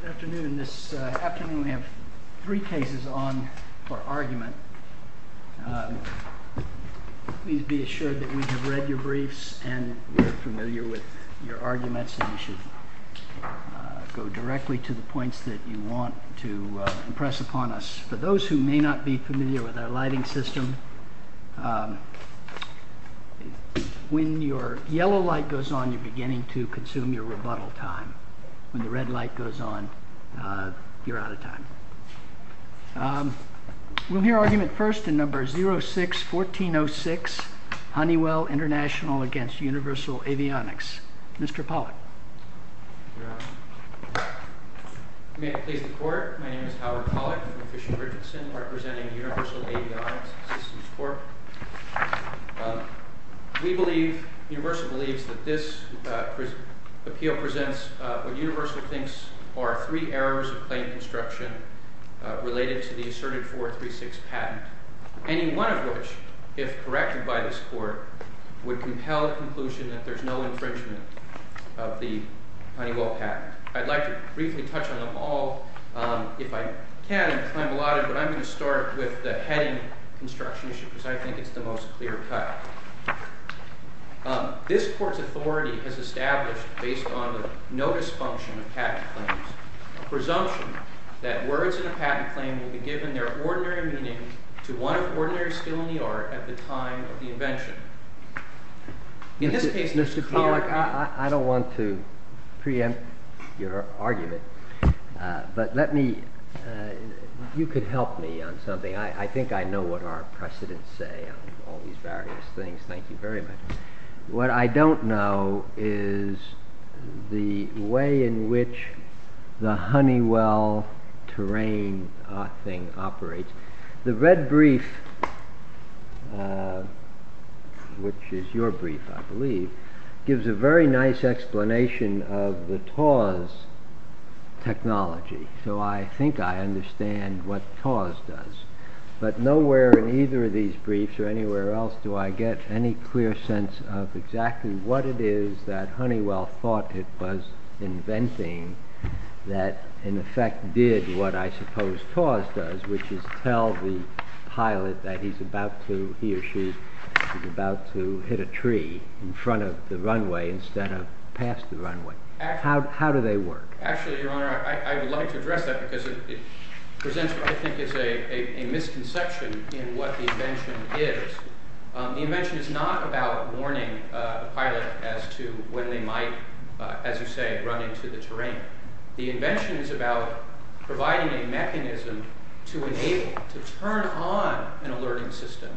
Good afternoon. This afternoon we have three cases on for argument. Please be assured that we have read your briefs and we are familiar with your arguments and we should go directly to the points that you want to impress upon us. For those who may not be familiar with our lighting system, when your yellow light goes on, you're beginning to consume your rebuttal time. When the red light goes on, you're out of time. We'll hear argument first in number 06-1406 Honeywell Intl v. Universal Avionics. Mr. Pollack. May it please the court. My name is Howard Pollack. I'm from Fish and Richardson, representing Universal Avionics Systems Corp. We believe, Universal believes, that this appeal presents what Universal thinks are three errors of plain construction related to the asserted 436 patent. Any one of which, if corrected by this court, would compel the conclusion that there's no infringement of the Honeywell patent. I'd like to briefly touch on them all if I can and claim allotted, but I'm going to start with the heading construction issue because I think it's the most clear cut. This court's authority has established, based on the notice function of patent claims, a presumption that words in a patent claim will be given their ordinary meaning to one of the ordinary skill in the art at the time of the invention. In this case, Mr. Pollack, I don't want to preempt your argument, but you could help me on something. I think I know what our precedents say on all these various things. Thank you very much. What I don't know is the way in which the Honeywell terrain thing operates. The red brief, which is your brief I believe, gives a very nice explanation of the TAWS technology. So I think I understand what TAWS does, but nowhere in either of these briefs or anywhere else do I get any clear sense of exactly what it is that Honeywell thought it was inventing that in effect did what I suppose TAWS does, which is tell the pilot that he or she is about to hit a tree in front of the runway instead of past the runway. How do they work? Actually, Your Honor, I would like to address that because it presents what I think is a misconception in what the invention is. The invention is not about warning the pilot as to when they might, as you say, run into the terrain. The invention is about providing a mechanism to enable, to turn on an alerting system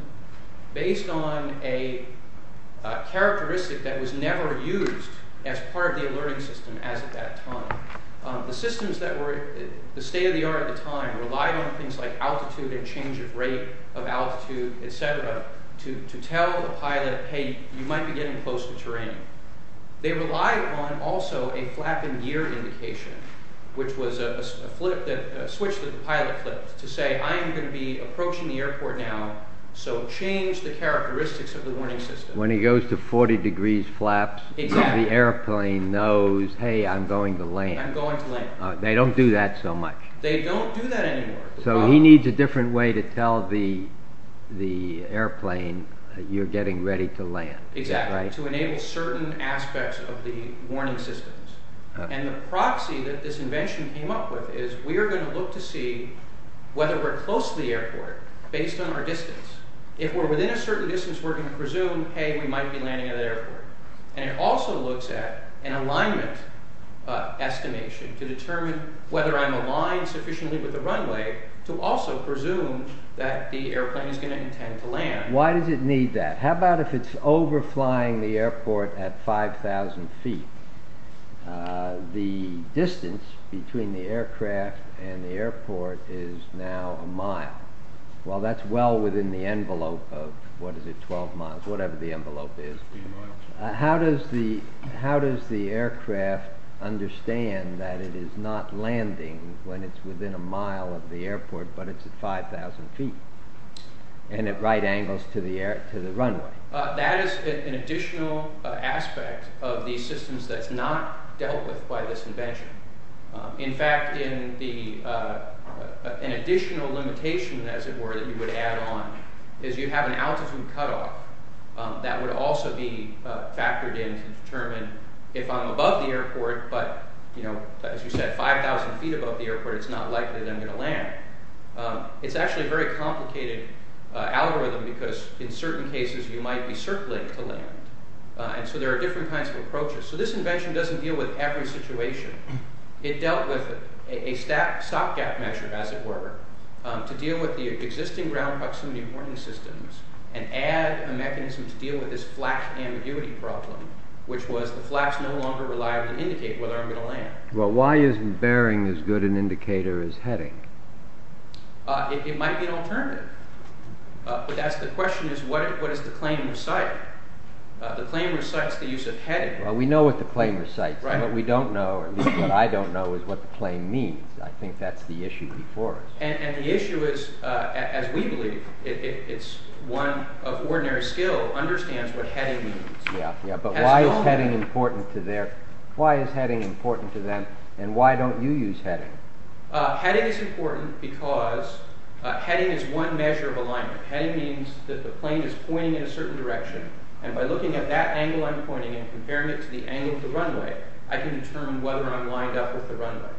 based on a characteristic that was never used as part of the alerting system as of that time. The systems that were the state-of-the-art at the time relied on things like altitude and change of rate of altitude, etc. to tell the pilot, hey, you might be getting close to terrain. They relied on also a flap and gear indication, which was a switch that the pilot flipped to say, I am going to be approaching the airport now, so change the characteristics of the warning system. When he goes to 40 degrees flaps, the airplane knows, hey, I am going to land. They don't do that so much. They don't do that anymore. So he needs a different way to tell the airplane, you are getting ready to land. Exactly, to enable certain aspects of the warning systems. And the proxy that this invention came up with is we are going to look to see whether we are close to the airport based on our distance. If we are within a certain distance, we are going to presume, hey, we might be landing at an airport. And it also looks at an alignment estimation to determine whether I am aligned sufficiently with the runway to also presume that the airplane is going to intend to land. Why does it need that? How about if it is overflying the airport at 5000 feet, the distance between the aircraft and the airport is now a mile. Well, that is well within the envelope of, what is it, 12 miles, whatever the envelope is. How does the aircraft understand that it is not landing when it is within a mile of the airport but it is at 5000 feet and at right angles to the runway? That is an additional aspect of the systems that is not dealt with by this invention. In fact, an additional limitation, as it were, that you would add on is you have an altitude cutoff that would also be factored in to determine if I am above the airport but, as you said, 5000 feet above the airport, it is not likely that I am going to land. It is actually a very complicated algorithm because, in certain cases, you might be circling to land. And so there are different kinds of approaches. So this invention does not deal with every situation. It dealt with a stopgap measure, as it were, to deal with the existing ground proximity warning systems and add a mechanism to deal with this flap ambiguity problem, which was the flaps no longer reliably indicate whether I am going to land. Well, why isn't bearing as good an indicator as heading? It might be an alternative. But the question is, what does the claim recite? The claim recites the use of heading. Well, we know what the claim recites. What we don't know, or at least what I don't know, is what the claim means. I think that is the issue before us. And the issue is, as we believe, it is one of ordinary skill, understands what heading means. But why is heading important to them, and why don't you use heading? Heading is important because heading is one measure of alignment. Heading means that the plane is pointing in a certain direction, and by looking at that angle I am pointing and comparing it to the angle of the runway, I can determine whether I am lined up with the runway.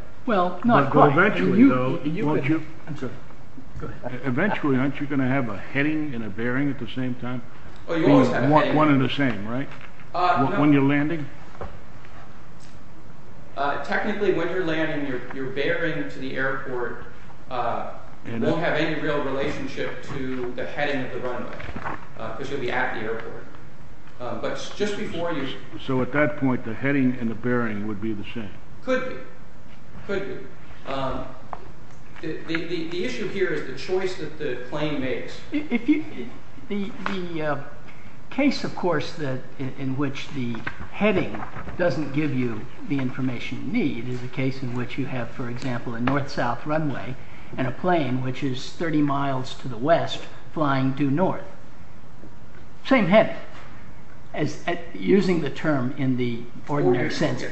Eventually, though, aren't you going to have a heading and a bearing at the same time? You always have a heading. One and the same, right? When you are landing? Technically, when you are landing, your bearing to the airport won't have any real relationship to the heading of the runway, because you will be at the airport. So, at that point, the heading and the bearing would be the same? Could be. Could be. The issue here is the choice that the claim makes. The case, of course, in which the heading doesn't give you the information you need is the case in which you have, for example, a north-south runway and a plane which is 30 miles to the west flying due north. Same heading, using the term in the ordinary sense.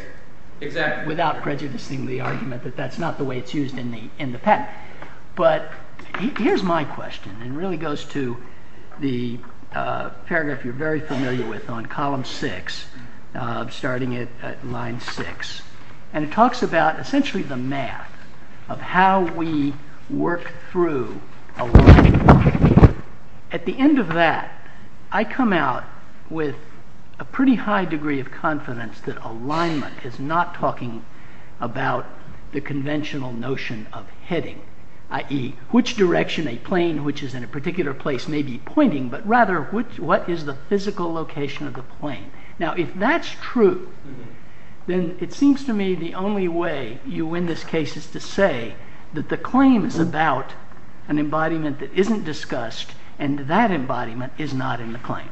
Exactly. Without prejudicing the argument that that is not the way it is used in the patent. But, here is my question, and it really goes to the paragraph you are very familiar with on column 6, starting at line 6. And it talks about, essentially, the math of how we work through alignment. At the end of that, I come out with a pretty high degree of confidence that alignment is not talking about the conventional notion of heading, i.e., which direction a plane which is in a particular place may be pointing, but rather what is the physical location of the plane. Now, if that is true, then it seems to me the only way you win this case is to say that the claim is about an embodiment that isn't discussed and that embodiment is not in the claim.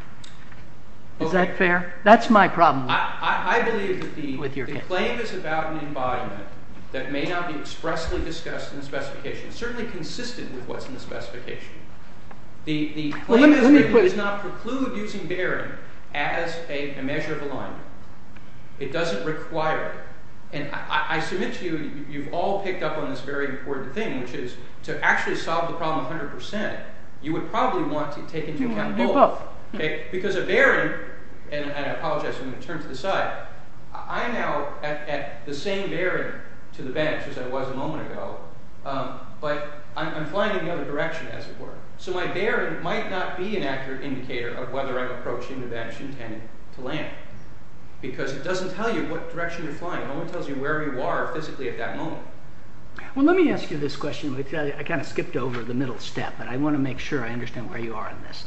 Is that fair? That is my problem with your case. I believe that the claim is about an embodiment that may not be expressly discussed in the specification, certainly consistent with what is in the specification. The claim is that you do not preclude using bearing as a measure of alignment. It doesn't require it. And I submit to you, you have all picked up on this very important thing, which is to actually solve the problem 100%, you would probably want to take into account both. Because a bearing, and I apologize, I'm going to turn to the side, I'm now at the same bearing to the bench as I was a moment ago, but I'm flying in the other direction as it were. So my bearing might not be an accurate indicator of whether I'm approaching the bench intended to land, because it doesn't tell you what direction you're flying. It only tells you where you are physically at that moment. Well, let me ask you this question. I kind of skipped over the middle step, but I want to make sure I understand where you are on this.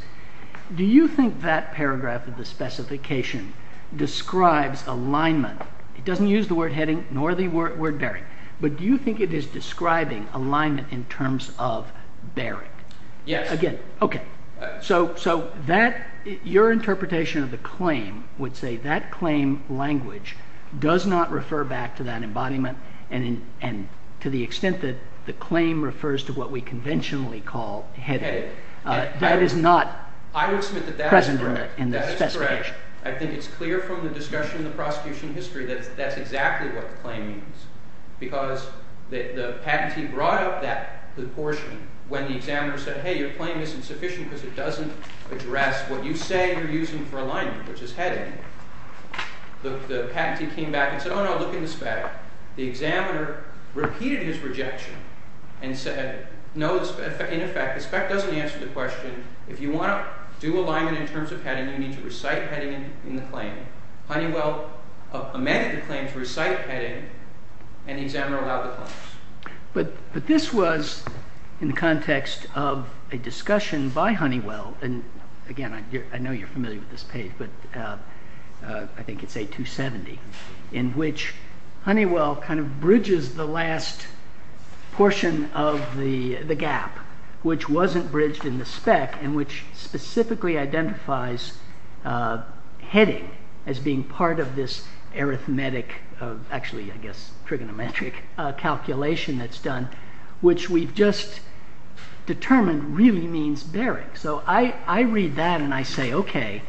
Do you think that paragraph of the specification describes alignment? It doesn't use the word heading nor the word bearing. But do you think it is describing alignment in terms of bearing? Yes. Okay. So your interpretation of the claim would say that claim language does not refer back to that embodiment and to the extent that the claim refers to what we conventionally call heading. That is not present in the specification. That is correct. I think it's clear from the discussion in the prosecution history that that's exactly what the claim means. Because the patentee brought up that proportion when the examiner said, hey, your claim isn't sufficient because it doesn't address what you say you're using for alignment, which is heading. The patentee came back and said, oh, no, look in the spec. The examiner repeated his rejection and said, no, in effect, the spec doesn't answer the question. If you want to do alignment in terms of heading, you need to recite heading in the claim. Honeywell amended the claim to recite heading, and the examiner allowed the claims. But this was in the context of a discussion by Honeywell. And, again, I know you're familiar with this page, but I think it's A270, in which Honeywell kind of bridges the last portion of the gap, which wasn't bridged in the spec and which specifically identifies heading as being part of this arithmetic, actually, I guess, trigonometric calculation. That's done, which we've just determined really means bearing. So I read that and I say, OK,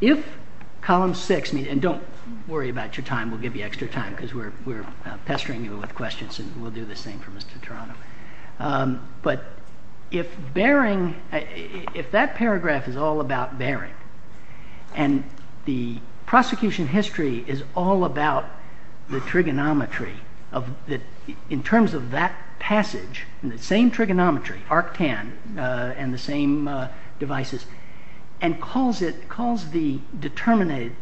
if column six, and don't worry about your time, we'll give you extra time because we're pestering you with questions and we'll do the same for Mr. Toronto. But if bearing, if that paragraph is all about bearing, and the prosecution history is all about the trigonometry, in terms of that passage, the same trigonometry, arctan, and the same devices, and calls the determinate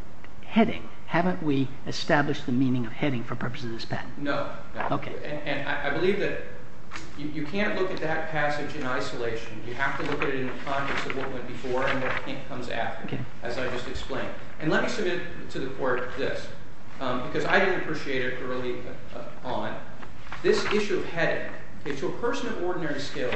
heading, haven't we established the meaning of heading for purposes of this patent? No. OK. And I believe that you can't look at that passage in isolation. You have to look at it in the context of what went before and what comes after, as I just explained. And let me submit to the court this, because I didn't appreciate it early on. This issue of heading, to a person of ordinary skill,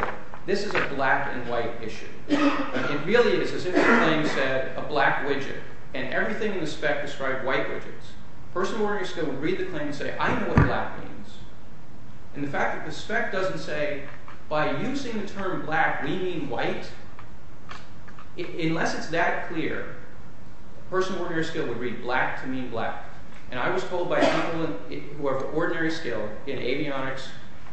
this is a black and white issue. It really is, as if the claim said, a black widget. And everything in the spec described white widgets. A person of ordinary skill would read the claim and say, I know what black means. And the fact that the spec doesn't say, by using the term black, we mean white, unless it's that clear, a person of ordinary skill would read black to mean black. And I was told by someone of ordinary skill in avionics,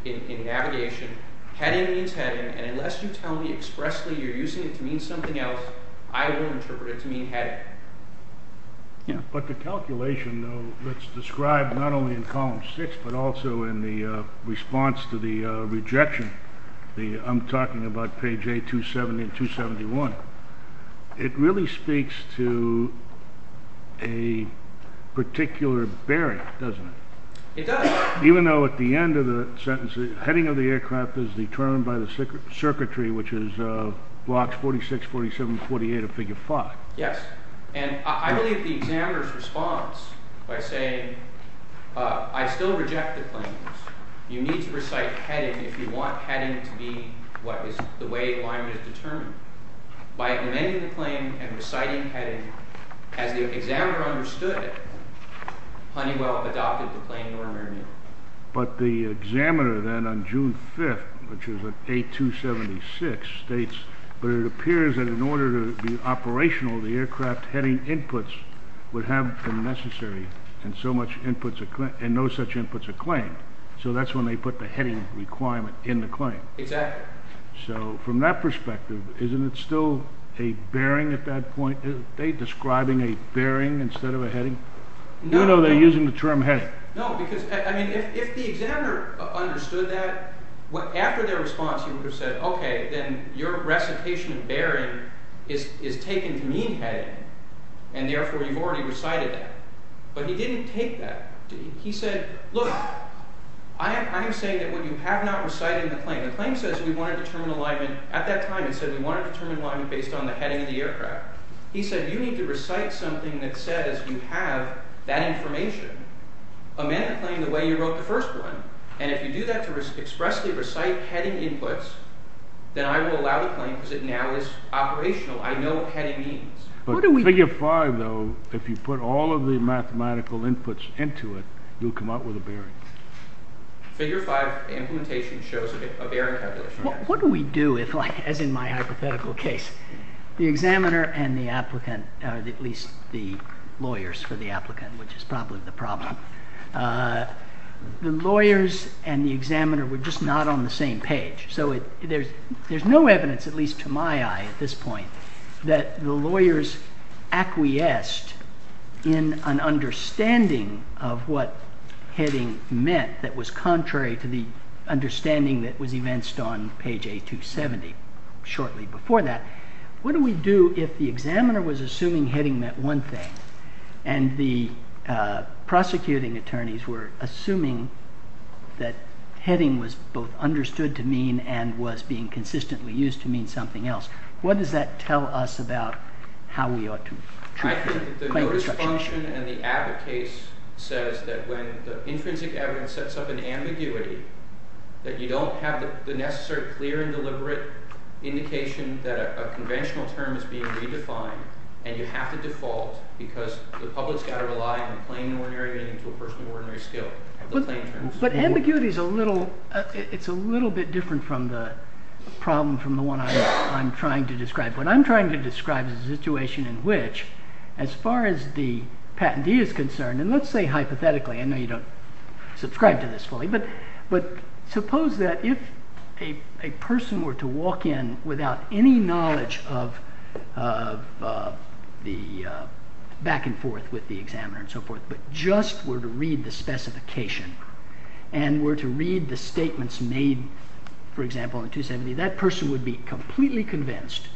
in navigation, heading means heading, and unless you tell me expressly you're using it to mean something else, I will interpret it to mean heading. But the calculation, though, that's described not only in column 6, but also in the response to the rejection, I'm talking about page A270 and 271, it really speaks to a particular bearing, doesn't it? It does. Even though at the end of the sentence, the heading of the aircraft is determined by the circuitry, which is blocks 46, 47, and 48 of figure 5. Yes. And I believe the examiner's response by saying, I still reject the claims. You need to recite heading if you want heading to be the way alignment is determined. By amending the claim and reciting heading, as the examiner understood it, Honeywell adopted the claim normally. But the examiner then, on June 5th, which is A276, states, but it appears that in order to be operational, the aircraft heading inputs would have been necessary, and no such inputs are claimed. So that's when they put the heading requirement in the claim. Exactly. So from that perspective, isn't it still a bearing at that point? Are they describing a bearing instead of a heading? No. You know they're using the term heading. No, because, I mean, if the examiner understood that, after their response, he would have said, okay, then your recitation of bearing is taken to mean heading, and therefore you've already recited that. But he didn't take that. He said, look, I am saying that when you have not recited the claim, the claim says we want to determine alignment at that time. It said we want to determine alignment based on the heading of the aircraft. He said you need to recite something that says you have that information. Amend the claim the way you wrote the first one, and if you do that to expressly recite heading inputs, then I will allow the claim because it now is operational. I know what heading means. But figure 5, though, if you put all of the mathematical inputs into it, you'll come out with a bearing. Figure 5 implementation shows a bearing calculation. What do we do if, as in my hypothetical case, the examiner and the applicant, or at least the lawyers for the applicant, which is probably the problem, the lawyers and the examiner were just not on the same page. So there's no evidence, at least to my eye at this point, that the lawyers acquiesced in an understanding of what heading meant that was contrary to the understanding that was evinced on page A270 shortly before that. What do we do if the examiner was assuming heading meant one thing and the prosecuting attorneys were assuming that heading was both understood to mean and was being consistently used to mean something else? What does that tell us about how we ought to treat the claim? I think that the notice function and the Abbott case says that when the intrinsic evidence sets up an ambiguity, that you don't have the necessary clear and deliberate indication that a conventional term is being redefined. And you have to default because the public's got to rely on plain and ordinary meaning to a person of ordinary skill. But ambiguity is a little bit different from the problem from the one I'm trying to describe. What I'm trying to describe is a situation in which, as far as the patentee is concerned, and let's say hypothetically, I know you don't subscribe to this fully, but suppose that if a person were to walk in without any knowledge of the back and forth with the examiner and so forth, but just were to read the specification and were to read the statements made, for example, in 270, that person would be completely convinced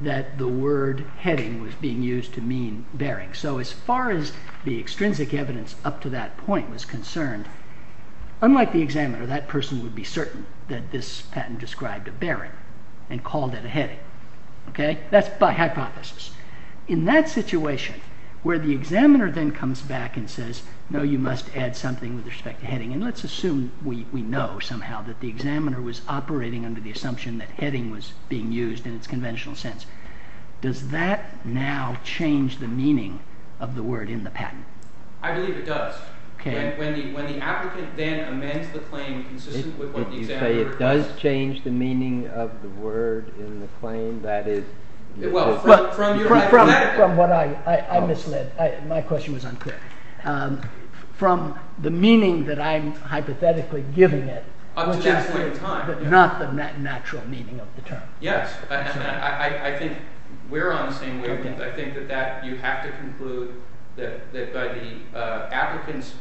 that the word heading was being used to mean bearing. So as far as the extrinsic evidence up to that point was concerned, unlike the examiner, that person would be certain that this patent described a bearing and called it a heading. That's by hypothesis. In that situation, where the examiner then comes back and says, no, you must add something with respect to heading, and let's assume we know somehow that the examiner was operating under the assumption that heading was being used in its conventional sense, does that now change the meaning of the word in the patent? I believe it does. When the applicant then amends the claim consistent with what the examiner— If you say it does change the meaning of the word in the claim, that is— From what I misled. My question was unclear. From the meaning that I'm hypothetically giving it— Up to that point in time. But not the natural meaning of the term. Yes. I think we're on the same wavelength. I think that you have to conclude that by the applicant's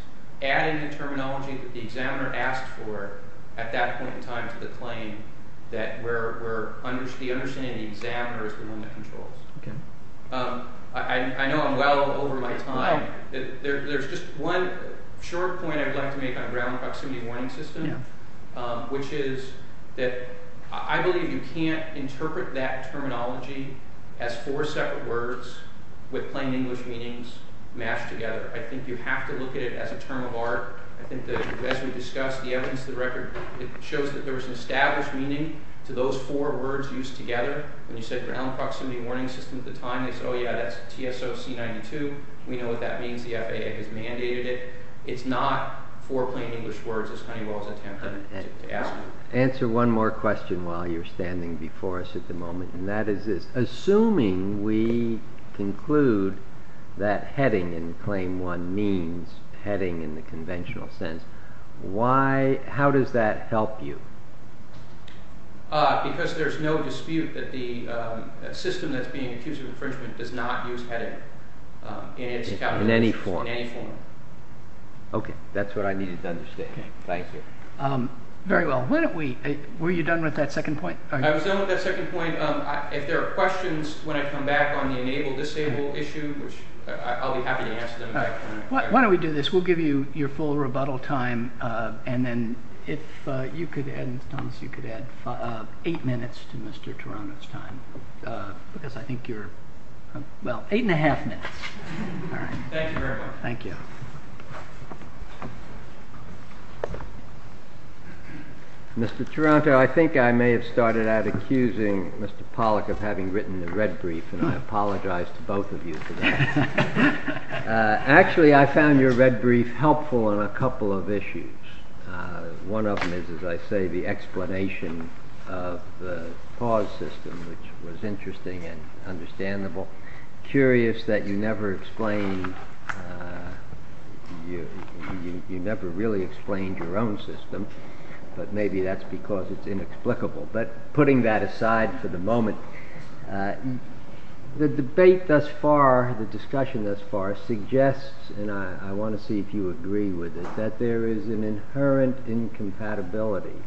adding the terminology that the examiner asked for at that point in time to the claim, that the understanding of the examiner is the one that controls. I know I'm well over my time. There's just one short point I'd like to make on ground proximity warning systems, which is that I believe you can't interpret that terminology as four separate words with plain English meanings matched together. I think you have to look at it as a term of art. As we discussed, the evidence to the record shows that there was an established meaning to those four words used together. When you said ground proximity warning systems at the time, they said, oh yeah, that's TSOC92. We know what that means. The FAA has mandated it. It's not four plain English words, as Honeywell is attempting to ask you. Answer one more question while you're standing before us at the moment, and that is this. Assuming we conclude that heading in Claim 1 means heading in the conventional sense, how does that help you? Because there's no dispute that the system that's being accused of infringement does not use heading in any form. That's what I needed to understand. Thank you. Very well. Were you done with that second point? I was done with that second point. If there are questions when I come back on the enable-disable issue, I'll be happy to answer them. Why don't we do this? We'll give you your full rebuttal time, and then if you could add eight minutes to Mr. Toronto's time. Because I think you're – well, eight and a half minutes. Thank you very much. Thank you. Mr. Toronto, I think I may have started out accusing Mr. Pollack of having written the red brief, and I apologize to both of you for that. Actually, I found your red brief helpful on a couple of issues. One of them is, as I say, the explanation of the pause system, which was interesting and understandable. Curious that you never explained – you never really explained your own system, but maybe that's because it's inexplicable. But putting that aside for the moment, the debate thus far, the discussion thus far suggests, and I want to see if you agree with it, that there is an inherent incompatibility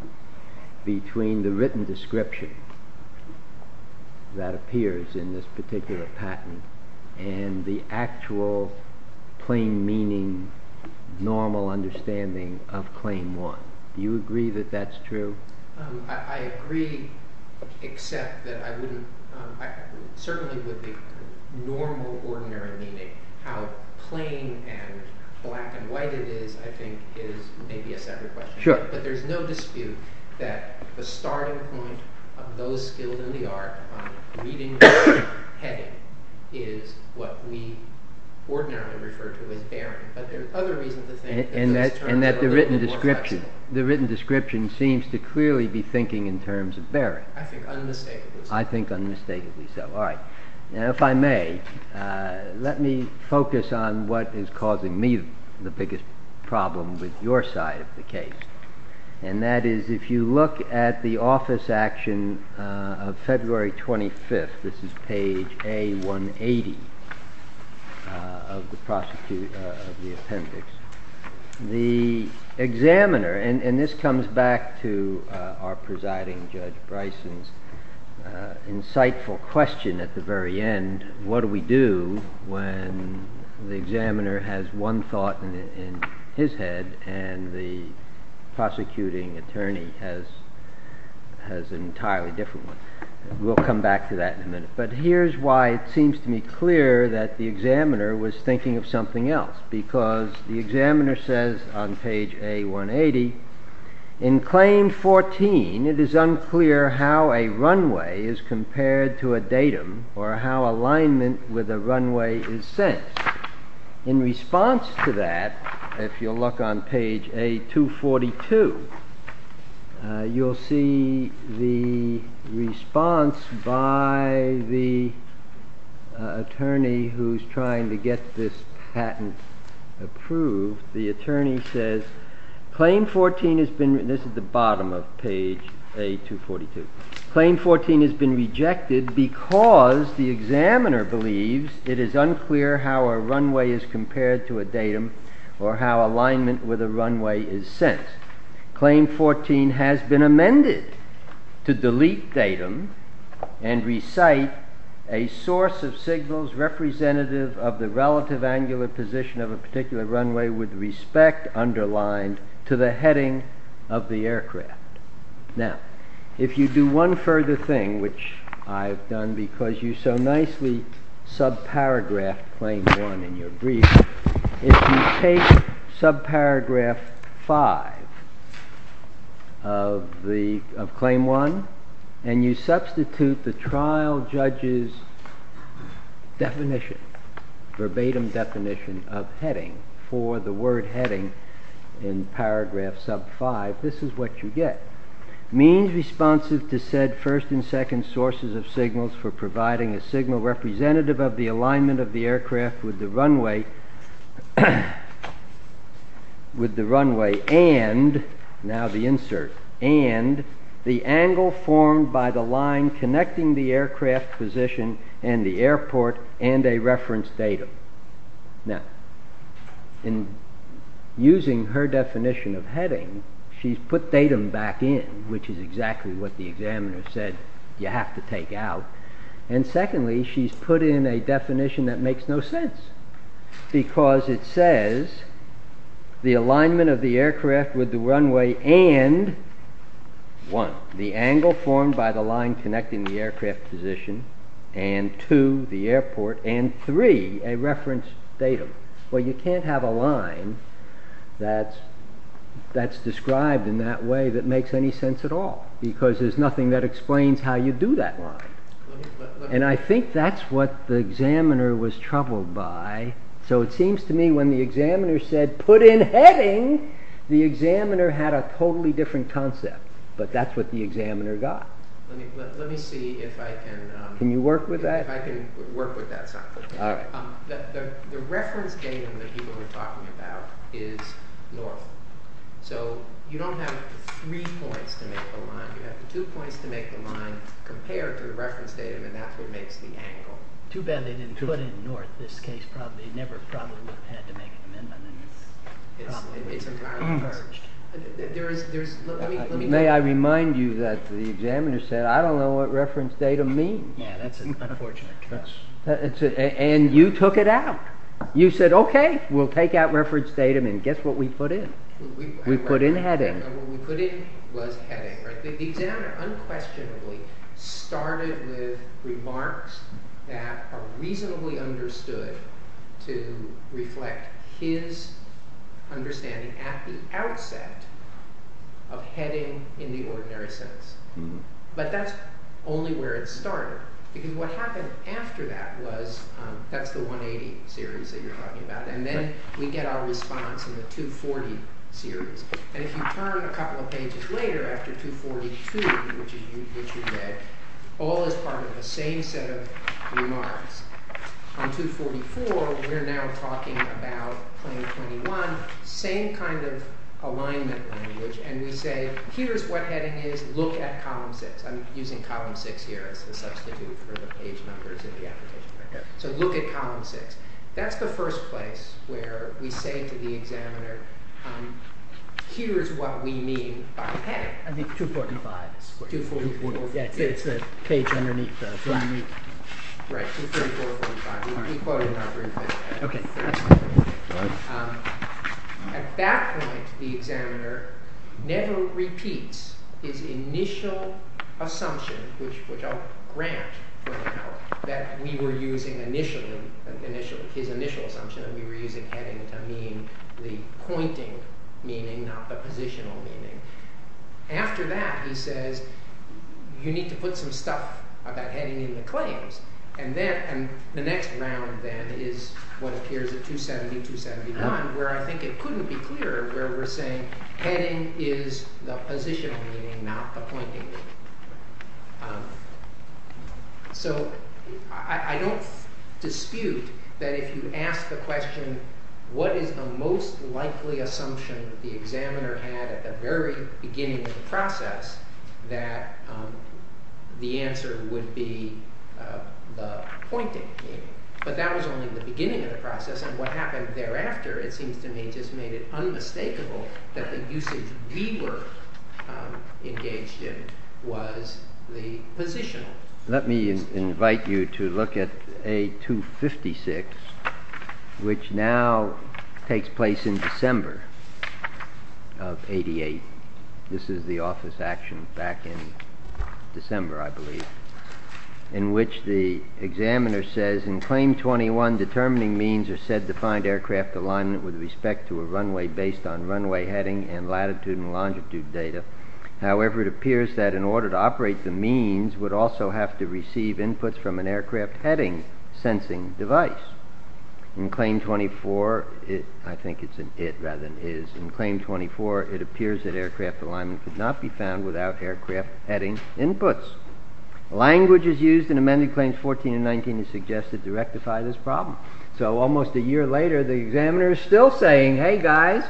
between the written description that appears in this particular patent and the actual plain-meaning, normal understanding of Claim 1. Do you agree that that's true? I agree, except that I wouldn't – certainly with the normal, ordinary meaning, how plain and black and white it is, I think, is maybe a separate question. But there's no dispute that the starting point of those skilled in the art on reading the heading is what we ordinarily refer to as barren. And that the written description seems to clearly be thinking in terms of barren. I think unmistakably so. I think unmistakably so. All right. Now, if I may, let me focus on what is causing me the biggest problem with your side of the case. And that is, if you look at the office action of February 25th, this is page A180 of the appendix, the examiner – and this comes back to our presiding judge Bryson's insightful question at the very end – what do we do when the examiner has one thought in his head and the prosecuting attorney has an entirely different one? We'll come back to that in a minute. But here's why it seems to me clear that the examiner was thinking of something else, because the examiner says on page A180, In claim 14, it is unclear how a runway is compared to a datum or how alignment with a runway is sensed. In response to that, if you look on page A242, you'll see the response by the attorney who's trying to get this patent approved. The attorney says, claim 14 has been – this is the bottom of page A242 – claim 14 has been rejected because the examiner believes it is unclear how a runway is compared to a datum or how alignment with a runway is sensed. Claim 14 has been amended to delete datum and recite a source of signals representative of the relative angular position of a particular runway with respect underlined to the heading of the aircraft. Now, if you do one further thing, which I've done because you so nicely sub-paragraphed claim 1 in your brief, if you take sub-paragraph 5 of claim 1 and you substitute the trial judge's definition, verbatim definition of heading for the word heading in paragraph sub-5, this is what you get. Means responsive to said first and second sources of signals for providing a signal representative of the alignment of the aircraft with the runway and – now the insert – and the angle formed by the line connecting the aircraft position and the airport and a reference datum. Now, in using her definition of heading, she's put datum back in, which is exactly what the examiner said you have to take out. And secondly, she's put in a definition that makes no sense because it says the alignment of the aircraft with the runway and 1. the angle formed by the line connecting the aircraft position and 2. the airport and 3. a reference datum. Well, you can't have a line that's described in that way that makes any sense at all because there's nothing that explains how you do that line. And I think that's what the examiner was troubled by, so it seems to me when the examiner said put in heading, the examiner had a totally different concept, but that's what the examiner got. Let me see if I can – Can you work with that? If I can work with that. All right. The reference datum that people are talking about is north, so you don't have three points to make a line. You have two points to make a line compared to the reference datum and that's what makes the angle. Too bad they didn't put in north this case probably. They never probably would have had to make an amendment. It's entirely purged. May I remind you that the examiner said I don't know what reference datum means. Yeah, that's unfortunate. And you took it out. You said okay, we'll take out reference datum and guess what we put in. We put in heading. The examiner unquestionably started with remarks that are reasonably understood to reflect his understanding at the outset of heading in the ordinary sense. But that's only where it started because what happened after that was – that's the 180 series that you're talking about and then we get our response in the 240 series. And if you turn a couple of pages later after 242, which you did, all is part of the same set of remarks. On 244, we're now talking about claim 21, same kind of alignment language and we say here's what heading is. Look at column six. I'm using column six here as a substitute for the page numbers in the application. So look at column six. That's the first place where we say to the examiner, here's what we mean by heading. I think 245. 244. Yeah, it's the page underneath. Right, 244.5. Okay. At that point, the examiner never repeats his initial assumption, which I'll grant for now, that we were using initially – his initial assumption that we were using heading to mean the pointing meaning, not the positional meaning. After that, he says, you need to put some stuff about heading in the claims. And then – and the next round then is what appears at 270, 271, where I think it couldn't be clearer where we're saying heading is the positional meaning, not the pointing meaning. So I don't dispute that if you ask the question, what is the most likely assumption the examiner had at the very beginning of the process, that the answer would be the pointing meaning. But that was only the beginning of the process, and what happened thereafter, it seems to me, just made it unmistakable that the usage we were engaged in was the positional. Let me invite you to look at A256, which now takes place in December of 88. This is the office action back in December, I believe, in which the examiner says, In Claim 21, determining means are said to find aircraft alignment with respect to a runway based on runway heading and latitude and longitude data. However, it appears that in order to operate the means would also have to receive inputs from an aircraft heading sensing device. In Claim 24 – I think it's an it rather than is – in Claim 24, it appears that aircraft alignment could not be found without aircraft heading inputs. Language is used in Amended Claims 14 and 19 to suggest that to rectify this problem. So almost a year later, the examiner is still saying, hey guys,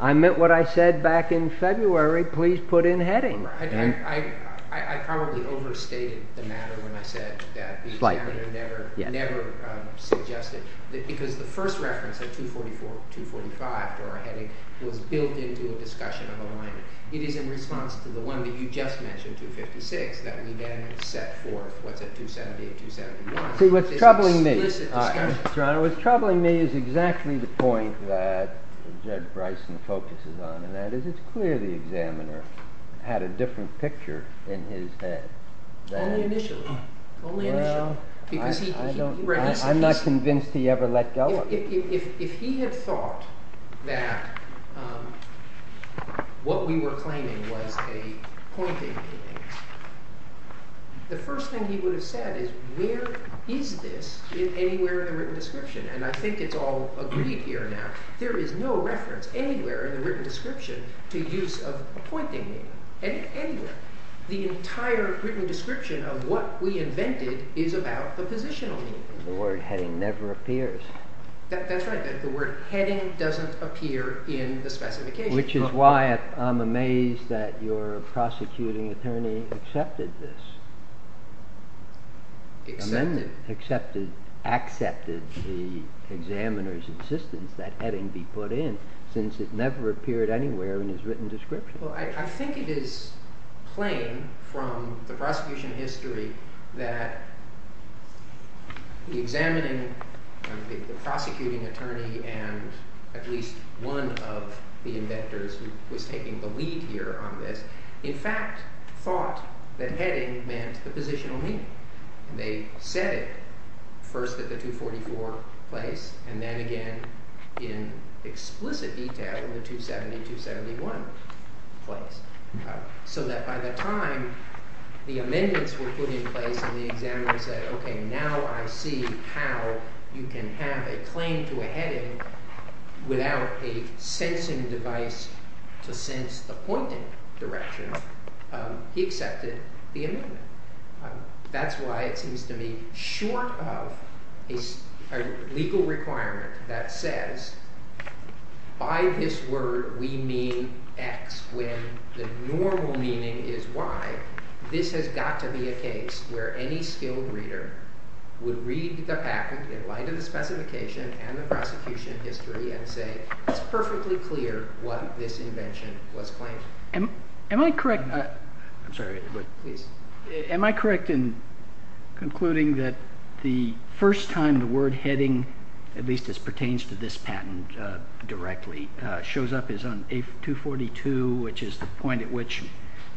I meant what I said back in February, please put in heading. I probably overstated the matter when I said that the examiner never suggested, because the first reference at 244, 245 for our heading was built into a discussion of alignment. It is in response to the one that you just mentioned, 256, that we then set forth what's at 278, 271. See, what's troubling me, Your Honor, what's troubling me is exactly the point that Jed Bryson focuses on, and that is it's clear the examiner had a different picture in his head. Only initially. Only initially. Well, I'm not convinced he ever let go of it. If he had thought that what we were claiming was a pointing meaning, the first thing he would have said is, where is this anywhere in the written description? And I think it's all agreed here now. There is no reference anywhere in the written description to use of a pointing meaning. Anywhere. The entire written description of what we invented is about the positional meaning. The word heading never appears. That's right. The word heading doesn't appear in the specification. Which is why I'm amazed that your prosecuting attorney accepted this. Accepted. Accepted the examiner's insistence that heading be put in, since it never appeared anywhere in his written description. Well, I think it is plain from the prosecution history that the examining, the prosecuting attorney, and at least one of the inventors who was taking the lead here on this, in fact, thought that heading meant the positional meaning. They said it first at the 244 place and then again in explicit detail at the 270, 271 place. So that by the time the amendments were put in place and the examiner said, okay, now I see how you can have a claim to a heading without a sensing device to sense the pointing direction. He accepted the amendment. That's why it seems to me, short of a legal requirement that says, by this word we mean X, when the normal meaning is Y, this has got to be a case where any skilled reader would read the packet in light of the specification and the prosecution history and say, it's perfectly clear what this invention was claiming. Am I correct in concluding that the first time the word heading, at least as pertains to this patent directly, shows up is on page 242, which is the point at which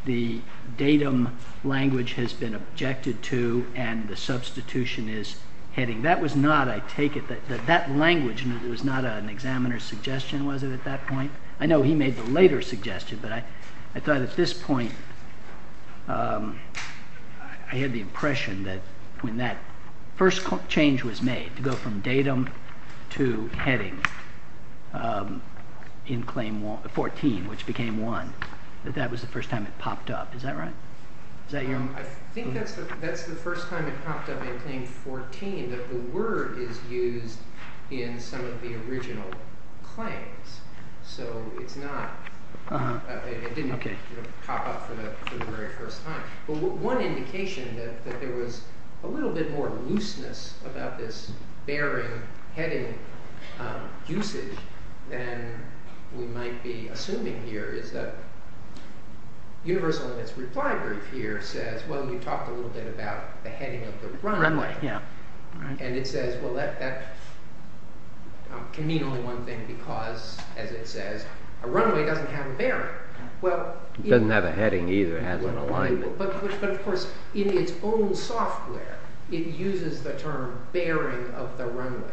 the datum language has been objected to and the substitution is heading. That was not, I take it, that language was not an examiner's suggestion, was it, at that point? I know he made the later suggestion, but I thought at this point I had the impression that when that first change was made to go from datum to heading in Claim 14, which became 1, that that was the first time it popped up. Is that right? I think that's the first time it popped up in Claim 14 that the word is used in some of the original claims. So it's not, it didn't pop up for the very first time. One indication that there was a little bit more looseness about this bearing, heading usage than we might be assuming here is that Universal in its reply brief here says, well, you talked a little bit about the heading of the runway. Runway, yeah. And it says, well, that can mean only one thing because, as it says, a runway doesn't have a bearing. It doesn't have a heading either. But, of course, in its own software, it uses the term bearing of the runway.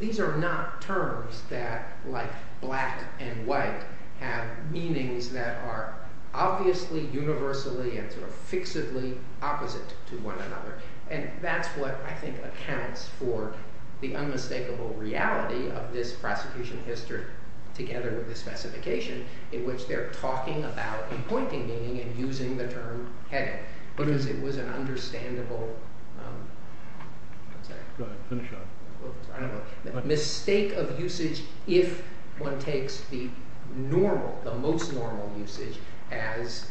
These are not terms that, like black and white, have meanings that are obviously universally and sort of fixedly opposite to one another. And that's what I think accounts for the unmistakable reality of this prosecution history together with the specification in which they're talking about appointing meaning and using the term heading because it was an understandable mistake of usage if one takes the most normal usage as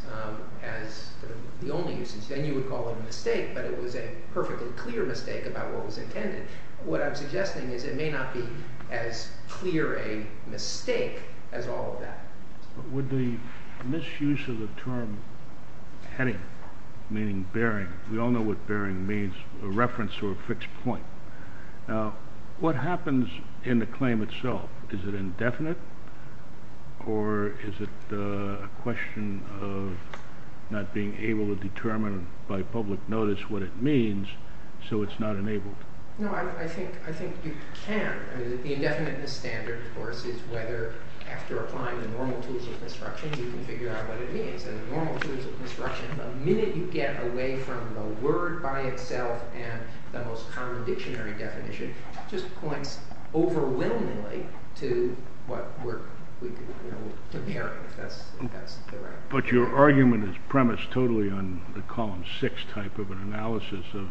the only usage. Then you would call it a mistake, but it was a perfectly clear mistake about what was intended. What I'm suggesting is it may not be as clear a mistake as all of that. With the misuse of the term heading, meaning bearing, we all know what bearing means, a reference to a fixed point. Now, what happens in the claim itself? Is it indefinite or is it a question of not being able to determine by public notice what it means so it's not enabled? No, I think you can. The indefiniteness standard, of course, is whether after applying the normal tools of construction, you can figure out what it means. And the normal tools of construction, the minute you get away from the word by itself and the most common dictionary definition, just points overwhelmingly to what we're comparing, if that's the right word. But your argument is premised totally on the column six type of an analysis of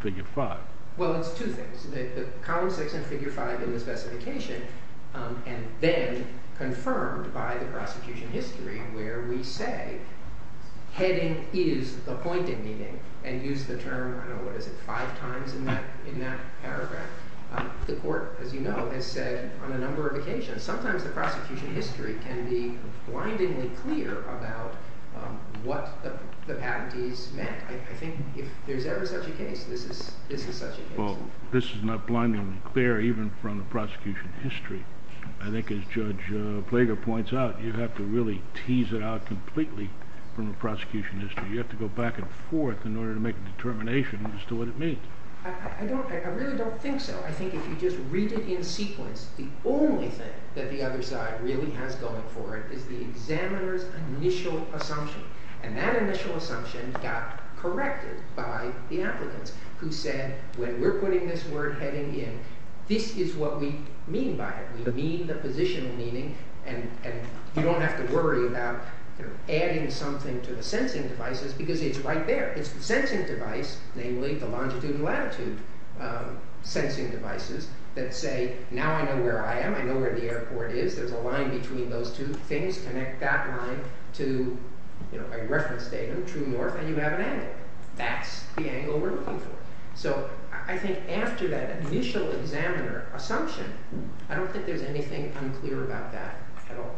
figure five. Well, it's two things. The column six and figure five in the specification and then confirmed by the prosecution history where we say heading is appointing meaning and use the term, I don't know, what is it, five times in that paragraph. The court, as you know, has said on a number of occasions, sometimes the prosecution history can be blindingly clear about what the patentees meant. I think if there's ever such a case, this is such a case. Well, this is not blindingly clear even from the prosecution history. I think as Judge Plager points out, you have to really tease it out completely from the prosecution history. You have to go back and forth in order to make a determination as to what it means. I really don't think so. I think if you just read it in sequence, the only thing that the other side really has going for it is the examiner's initial assumption. And that initial assumption got corrected by the applicants who said when we're putting this word heading in, this is what we mean by it. We mean the positional meaning and you don't have to worry about adding something to the sensing devices because it's right there. It's the sensing device, namely the longitude and latitude sensing devices that say now I know where I am. I know where the airport is. There's a line between those two things. Connect that line to a reference datum, true north, and you have an angle. That's the angle we're looking for. So I think after that initial examiner assumption, I don't think there's anything unclear about that at all.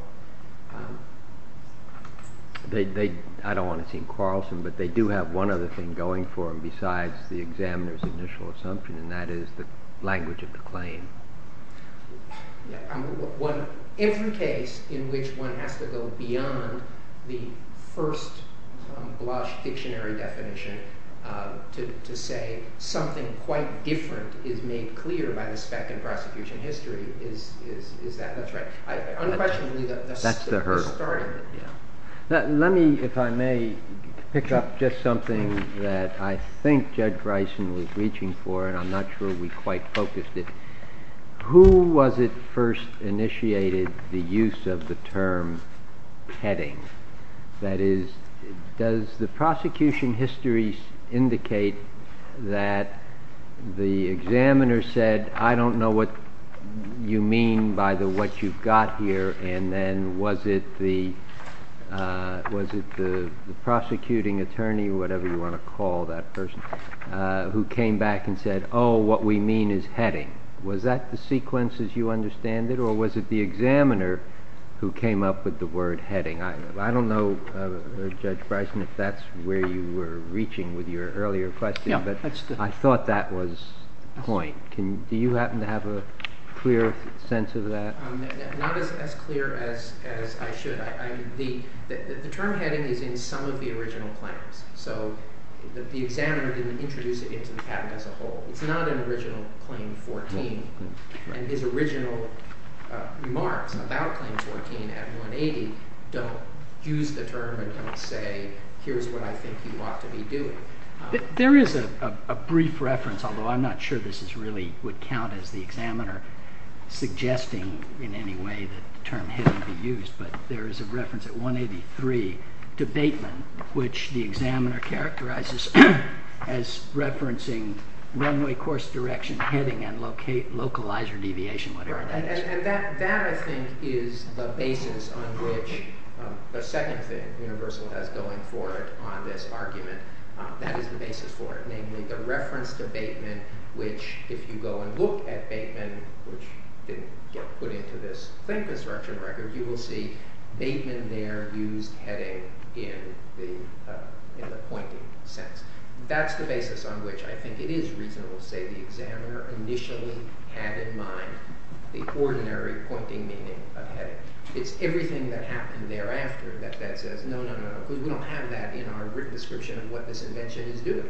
I don't want to seem quarrelsome, but they do have one other thing going for them besides the examiner's initial assumption, and that is the language of the claim. Every case in which one has to go beyond the first gloss dictionary definition to say something quite different is made clear by the spec in prosecution history is that. That's right. Unquestionably, that's the hurdle. Let me, if I may, pick up just something that I think Judge Bryson was reaching for and I'm not sure we quite focused it. Who was it first initiated the use of the term heading? That is, does the prosecution history indicate that the examiner said, I don't know what you mean by what you've got here, and then was it the prosecuting attorney, whatever you want to call that person, who came back and said, oh, what we mean is heading? Was that the sequence as you understand it, or was it the examiner who came up with the word heading? I don't know, Judge Bryson, if that's where you were reaching with your earlier question, but I thought that was the point. Do you happen to have a clearer sense of that? Not as clear as I should. The term heading is in some of the original claims, so the examiner didn't introduce it into the patent as a whole. It's not an original Claim 14, and his original remarks about Claim 14 at 180 don't use the term and don't say, here's what I think you ought to be doing. There is a brief reference, although I'm not sure this really would count as the examiner suggesting in any way that the term heading be used, but there is a reference at 183 to Bateman, which the examiner characterizes as referencing runway course direction, heading, and localizer deviation, whatever that is. That, I think, is the basis on which the second thing Universal has going for it on this argument. That is the basis for it, namely the reference to Bateman, which if you go and look at Bateman, which didn't get put into this claim construction record, you will see Bateman there used heading in the pointing sense. That's the basis on which I think it is reasonable to say the examiner initially had in mind the ordinary pointing meaning of heading. It's everything that happened thereafter that says, no, no, no, because we don't have that in our written description of what this invention is doing.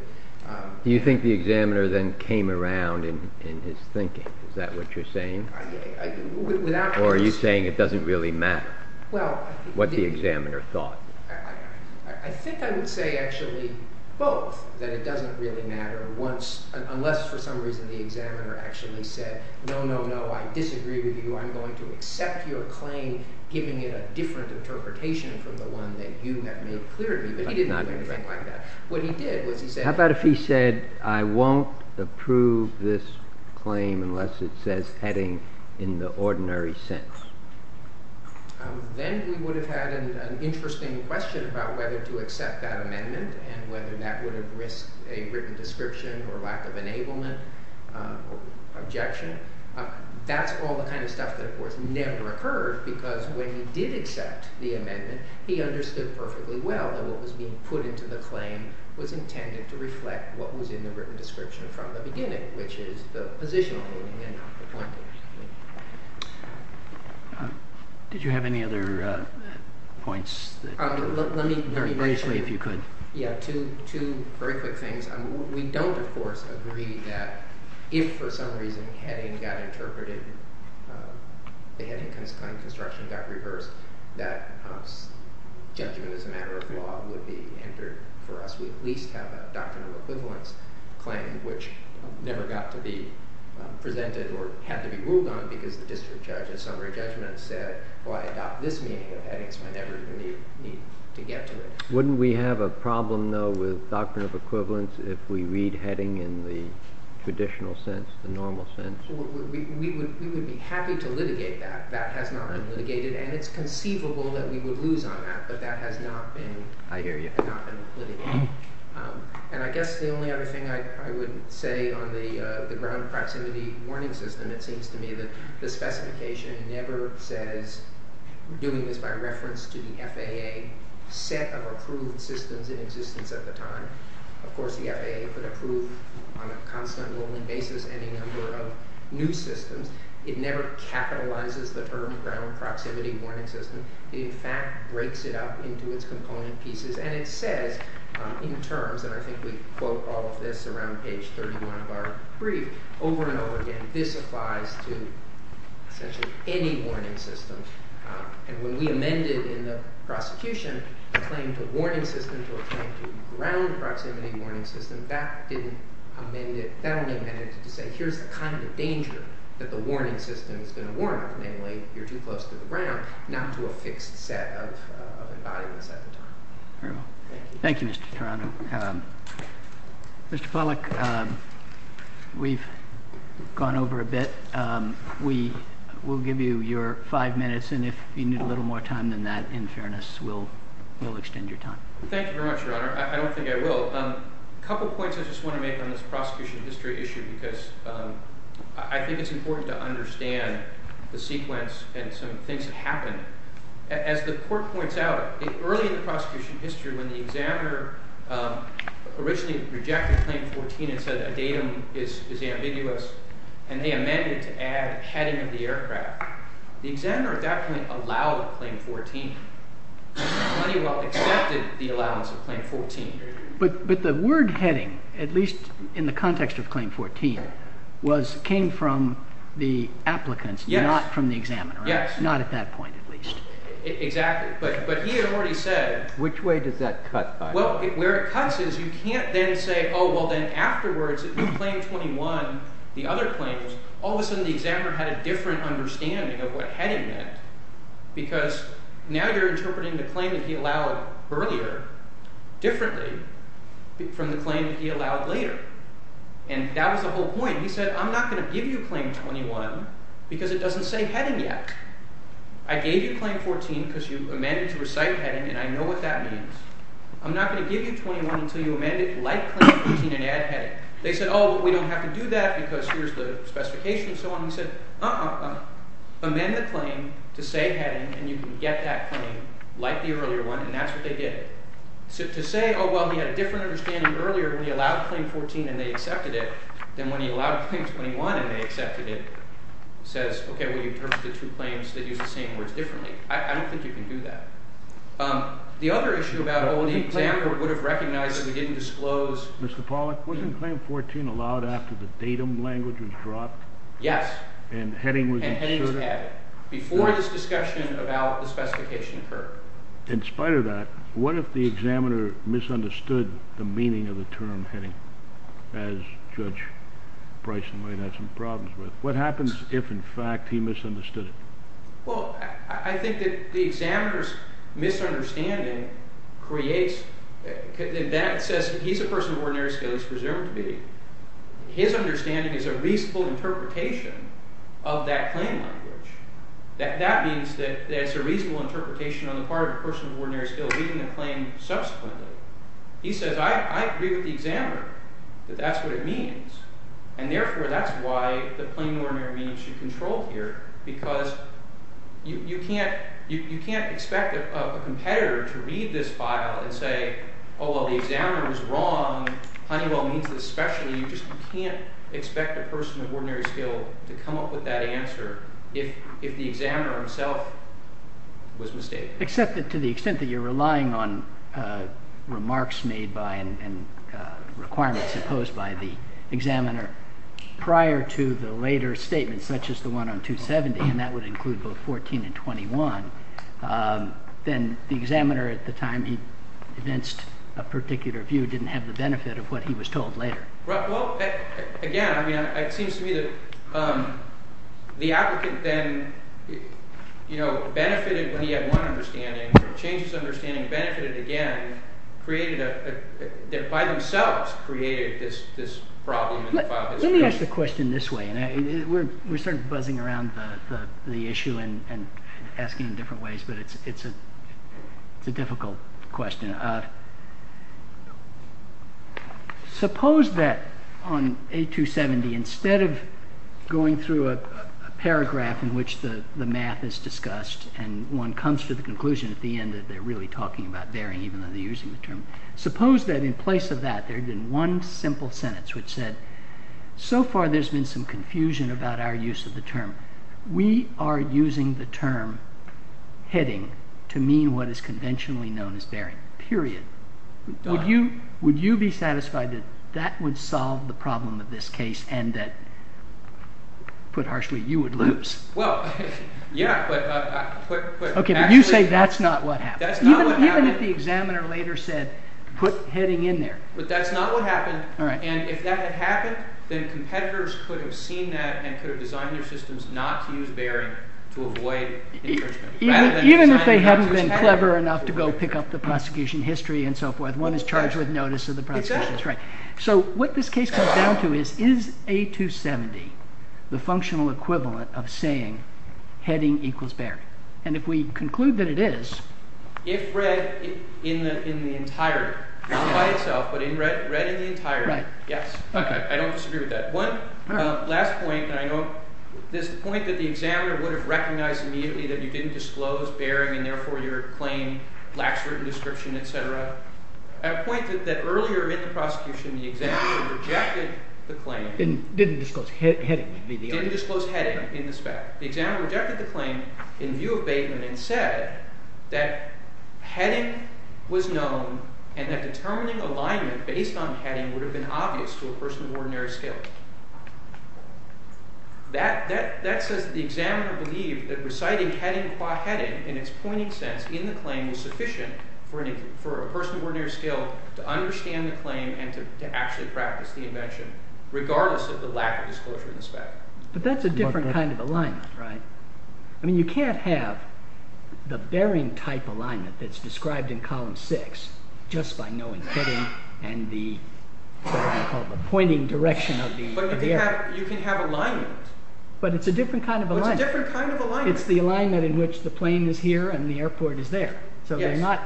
You think the examiner then came around in his thinking, is that what you're saying? Or are you saying it doesn't really matter what the examiner thought? I think I would say actually both, that it doesn't really matter unless for some reason the examiner actually said, no, no, no, I disagree with you. I'm going to accept your claim, giving it a different interpretation from the one that you have made clear to me. But he didn't do anything like that. How about if he said, I won't approve this claim unless it says heading in the ordinary sense? Then we would have had an interesting question about whether to accept that amendment and whether that would have risked a written description or lack of enablement objection. That's all the kind of stuff that of course never occurred because when he did accept the amendment, he understood perfectly well that what was being put into the claim was intended to reflect what was in the written description from the beginning, which is the position on the amendment, not the plaintiff's. Did you have any other points? Let me briefly, if you could. Yeah, two very quick things. We don't of course agree that if for some reason heading got interpreted, the heading claim construction got reversed, that judgment as a matter of law would be entered for us. We would at least have a doctrine of equivalence claim, which never got to be presented or had to be ruled on because the district judge in summary judgment said, well, I adopt this meaning of heading so I never need to get to it. Wouldn't we have a problem though with doctrine of equivalence if we read heading in the traditional sense, the normal sense? We would be happy to litigate that. That has not been litigated and it's conceivable that we would lose on that, but that has not been litigated. And I guess the only other thing I would say on the ground proximity warning system, it seems to me that the specification never says we're doing this by reference to the FAA set of approved systems in existence at the time. Of course, the FAA could approve on a constant rolling basis any number of new systems. It never capitalizes the term ground proximity warning system. It in fact breaks it up into its component pieces and it says in terms, and I think we quote all of this around page 31 of our brief over and over again, this applies to essentially any warning system. And when we amended in the prosecution the claim to warning system to a claim to ground proximity warning system, that didn't amend it. That only amended it to say here's the kind of danger that the warning system is going to warn us, mainly you're too close to the ground, not to a fixed set of environments at the time. Thank you, Mr. Tarano. Mr. Pollack, we've gone over a bit. We will give you your five minutes and if you need a little more time than that, in fairness, we'll extend your time. Thank you very much, Your Honor. I don't think I will. A couple points I just want to make on this prosecution history issue because I think it's important to understand the sequence and some things that happened. As the court points out, early in the prosecution history when the examiner originally rejected Claim 14 and said a datum is ambiguous and they amended to add heading of the aircraft, the examiner at that point allowed Claim 14. Moneywell accepted the allowance of Claim 14. But the word heading, at least in the context of Claim 14, came from the applicants, not from the examiner. Yes. Not at that point, at least. Exactly. But he had already said. Which way does that cut? Well, where it cuts is you can't then say, oh, well, then afterwards in Claim 21, the other claims, all of a sudden the examiner had a different understanding of what heading meant because now you're interpreting the claim that he allowed earlier differently from the claim that he allowed later. And that was the whole point. He said, I'm not going to give you Claim 21 because it doesn't say heading yet. I gave you Claim 14 because you amended to recite heading and I know what that means. I'm not going to give you 21 until you amend it like Claim 14 and add heading. They said, oh, but we don't have to do that because here's the specification and so on. He said, uh-uh, amend the claim to say heading and you can get that claim like the earlier one and that's what they did. So to say, oh, well, he had a different understanding earlier when he allowed Claim 14 and they accepted it than when he allowed Claim 21 and they accepted it says, okay, well, you interpreted two claims that use the same words differently. I don't think you can do that. The other issue about, oh, the examiner would have recognized that we didn't disclose. Mr. Pollack, wasn't Claim 14 allowed after the datum language was dropped? Yes. And heading was inserted? And heading was added before this discussion about the specification occurred. In spite of that, what if the examiner misunderstood the meaning of the term heading as Judge Bryson might have some problems with? What happens if, in fact, he misunderstood it? Well, I think that the examiner's misunderstanding creates – that says he's a person of ordinary skill. His understanding is a reasonable interpretation of that claim language. That means that it's a reasonable interpretation on the part of a person of ordinary skill reading the claim subsequently. He says, I agree with the examiner that that's what it means. And therefore, that's why the plain ordinary means should control here because you can't expect a competitor to read this file and say, oh, well, the examiner was wrong. Honeywell means this specially. You just can't expect a person of ordinary skill to come up with that answer if the examiner himself was mistaken. Except that to the extent that you're relying on remarks made by and requirements imposed by the examiner prior to the later statements, such as the one on 270, and that would include both 14 and 21, then the examiner at the time he evinced a particular view didn't have the benefit of what he was told later. Well, again, it seems to me that the applicant then benefited when he had one understanding or changed his understanding, benefited again, created a – by themselves created this problem in the file history. Let me ask the question this way, and we're sort of buzzing around the issue and asking in different ways, but it's a difficult question. Suppose that on A270, instead of going through a paragraph in which the math is discussed and one comes to the conclusion at the end that they're really talking about varying even though they're using the term, suppose that in place of that there had been one simple sentence which said, so far there's been some confusion about our use of the term. We are using the term heading to mean what is conventionally known as varying, period. Would you be satisfied that that would solve the problem of this case and that, put harshly, you would lose? Well, yeah, but actually – Okay, but you say that's not what happened. That's not what happened. Even if the examiner later said put heading in there. But that's not what happened. All right. And if that had happened, then competitors could have seen that and could have designed their systems not to use varying to avoid infringement. Even if they hadn't been clever enough to go pick up the prosecution history and so forth. One is charged with notice of the prosecution. Exactly. That's right. So what this case comes down to is, is A270 the functional equivalent of saying heading equals varying? And if we conclude that it is – If read in the entirety, not by itself, but read in the entirety. Right. Yes. Okay. I don't disagree with that. One last point, and I know this is the point that the examiner would have recognised immediately that you didn't disclose varying and therefore your claim lacks written description, etc. At a point that earlier in the prosecution the examiner rejected the claim. Didn't disclose heading. Didn't disclose heading in the spec. The examiner rejected the claim in view of Bateman and said that heading was known and that determining alignment based on heading would have been obvious to a person of ordinary skill. That says that the examiner believed that reciting heading qua heading in its pointing sense in the claim was sufficient for a person of ordinary skill to understand the claim and to actually practice the invention regardless of the lack of disclosure in the spec. But that's a different kind of alignment, right? I mean you can't have the bearing type alignment that's described in column 6 just by knowing heading and the pointing direction of the air. But you can have alignment. But it's a different kind of alignment. It's a different kind of alignment. It's the alignment in which the plane is here and the airport is there. Yes. So they're not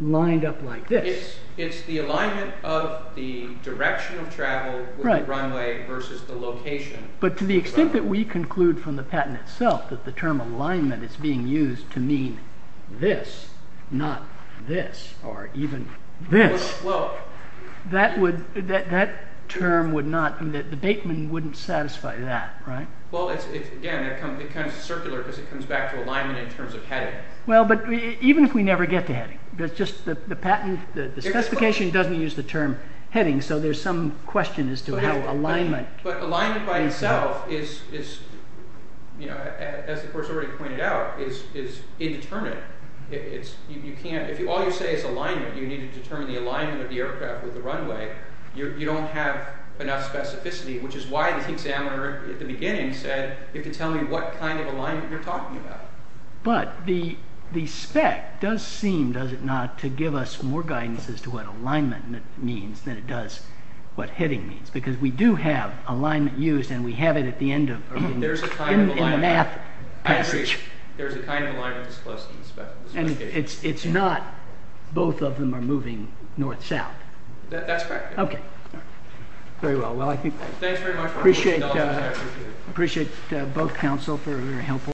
lined up like this. It's the alignment of the direction of travel with the runway versus the location. But to the extent that we conclude from the patent itself that the term alignment is being used to mean this, not this, or even this, that term would not, the Bateman wouldn't satisfy that, right? Well, again, it becomes circular because it comes back to alignment in terms of heading. Well, but even if we never get to heading, it's just the patent, the specification doesn't use the term heading so there's some question as to how alignment. But alignment by itself is, as the course already pointed out, is indeterminate. If all you say is alignment, you need to determine the alignment of the aircraft with the runway. You don't have enough specificity, which is why the examiner at the beginning said you have to tell me what kind of alignment you're talking about. But the spec does seem, does it not, to give us more guidance as to what alignment means than it does what heading means. Because we do have alignment used and we have it at the end of the math passage. I agree. There's a kind of alignment that's close to the specification. And it's not both of them are moving north-south. That's correct. Okay. Very well. I appreciate both counsel for a very helpful answer.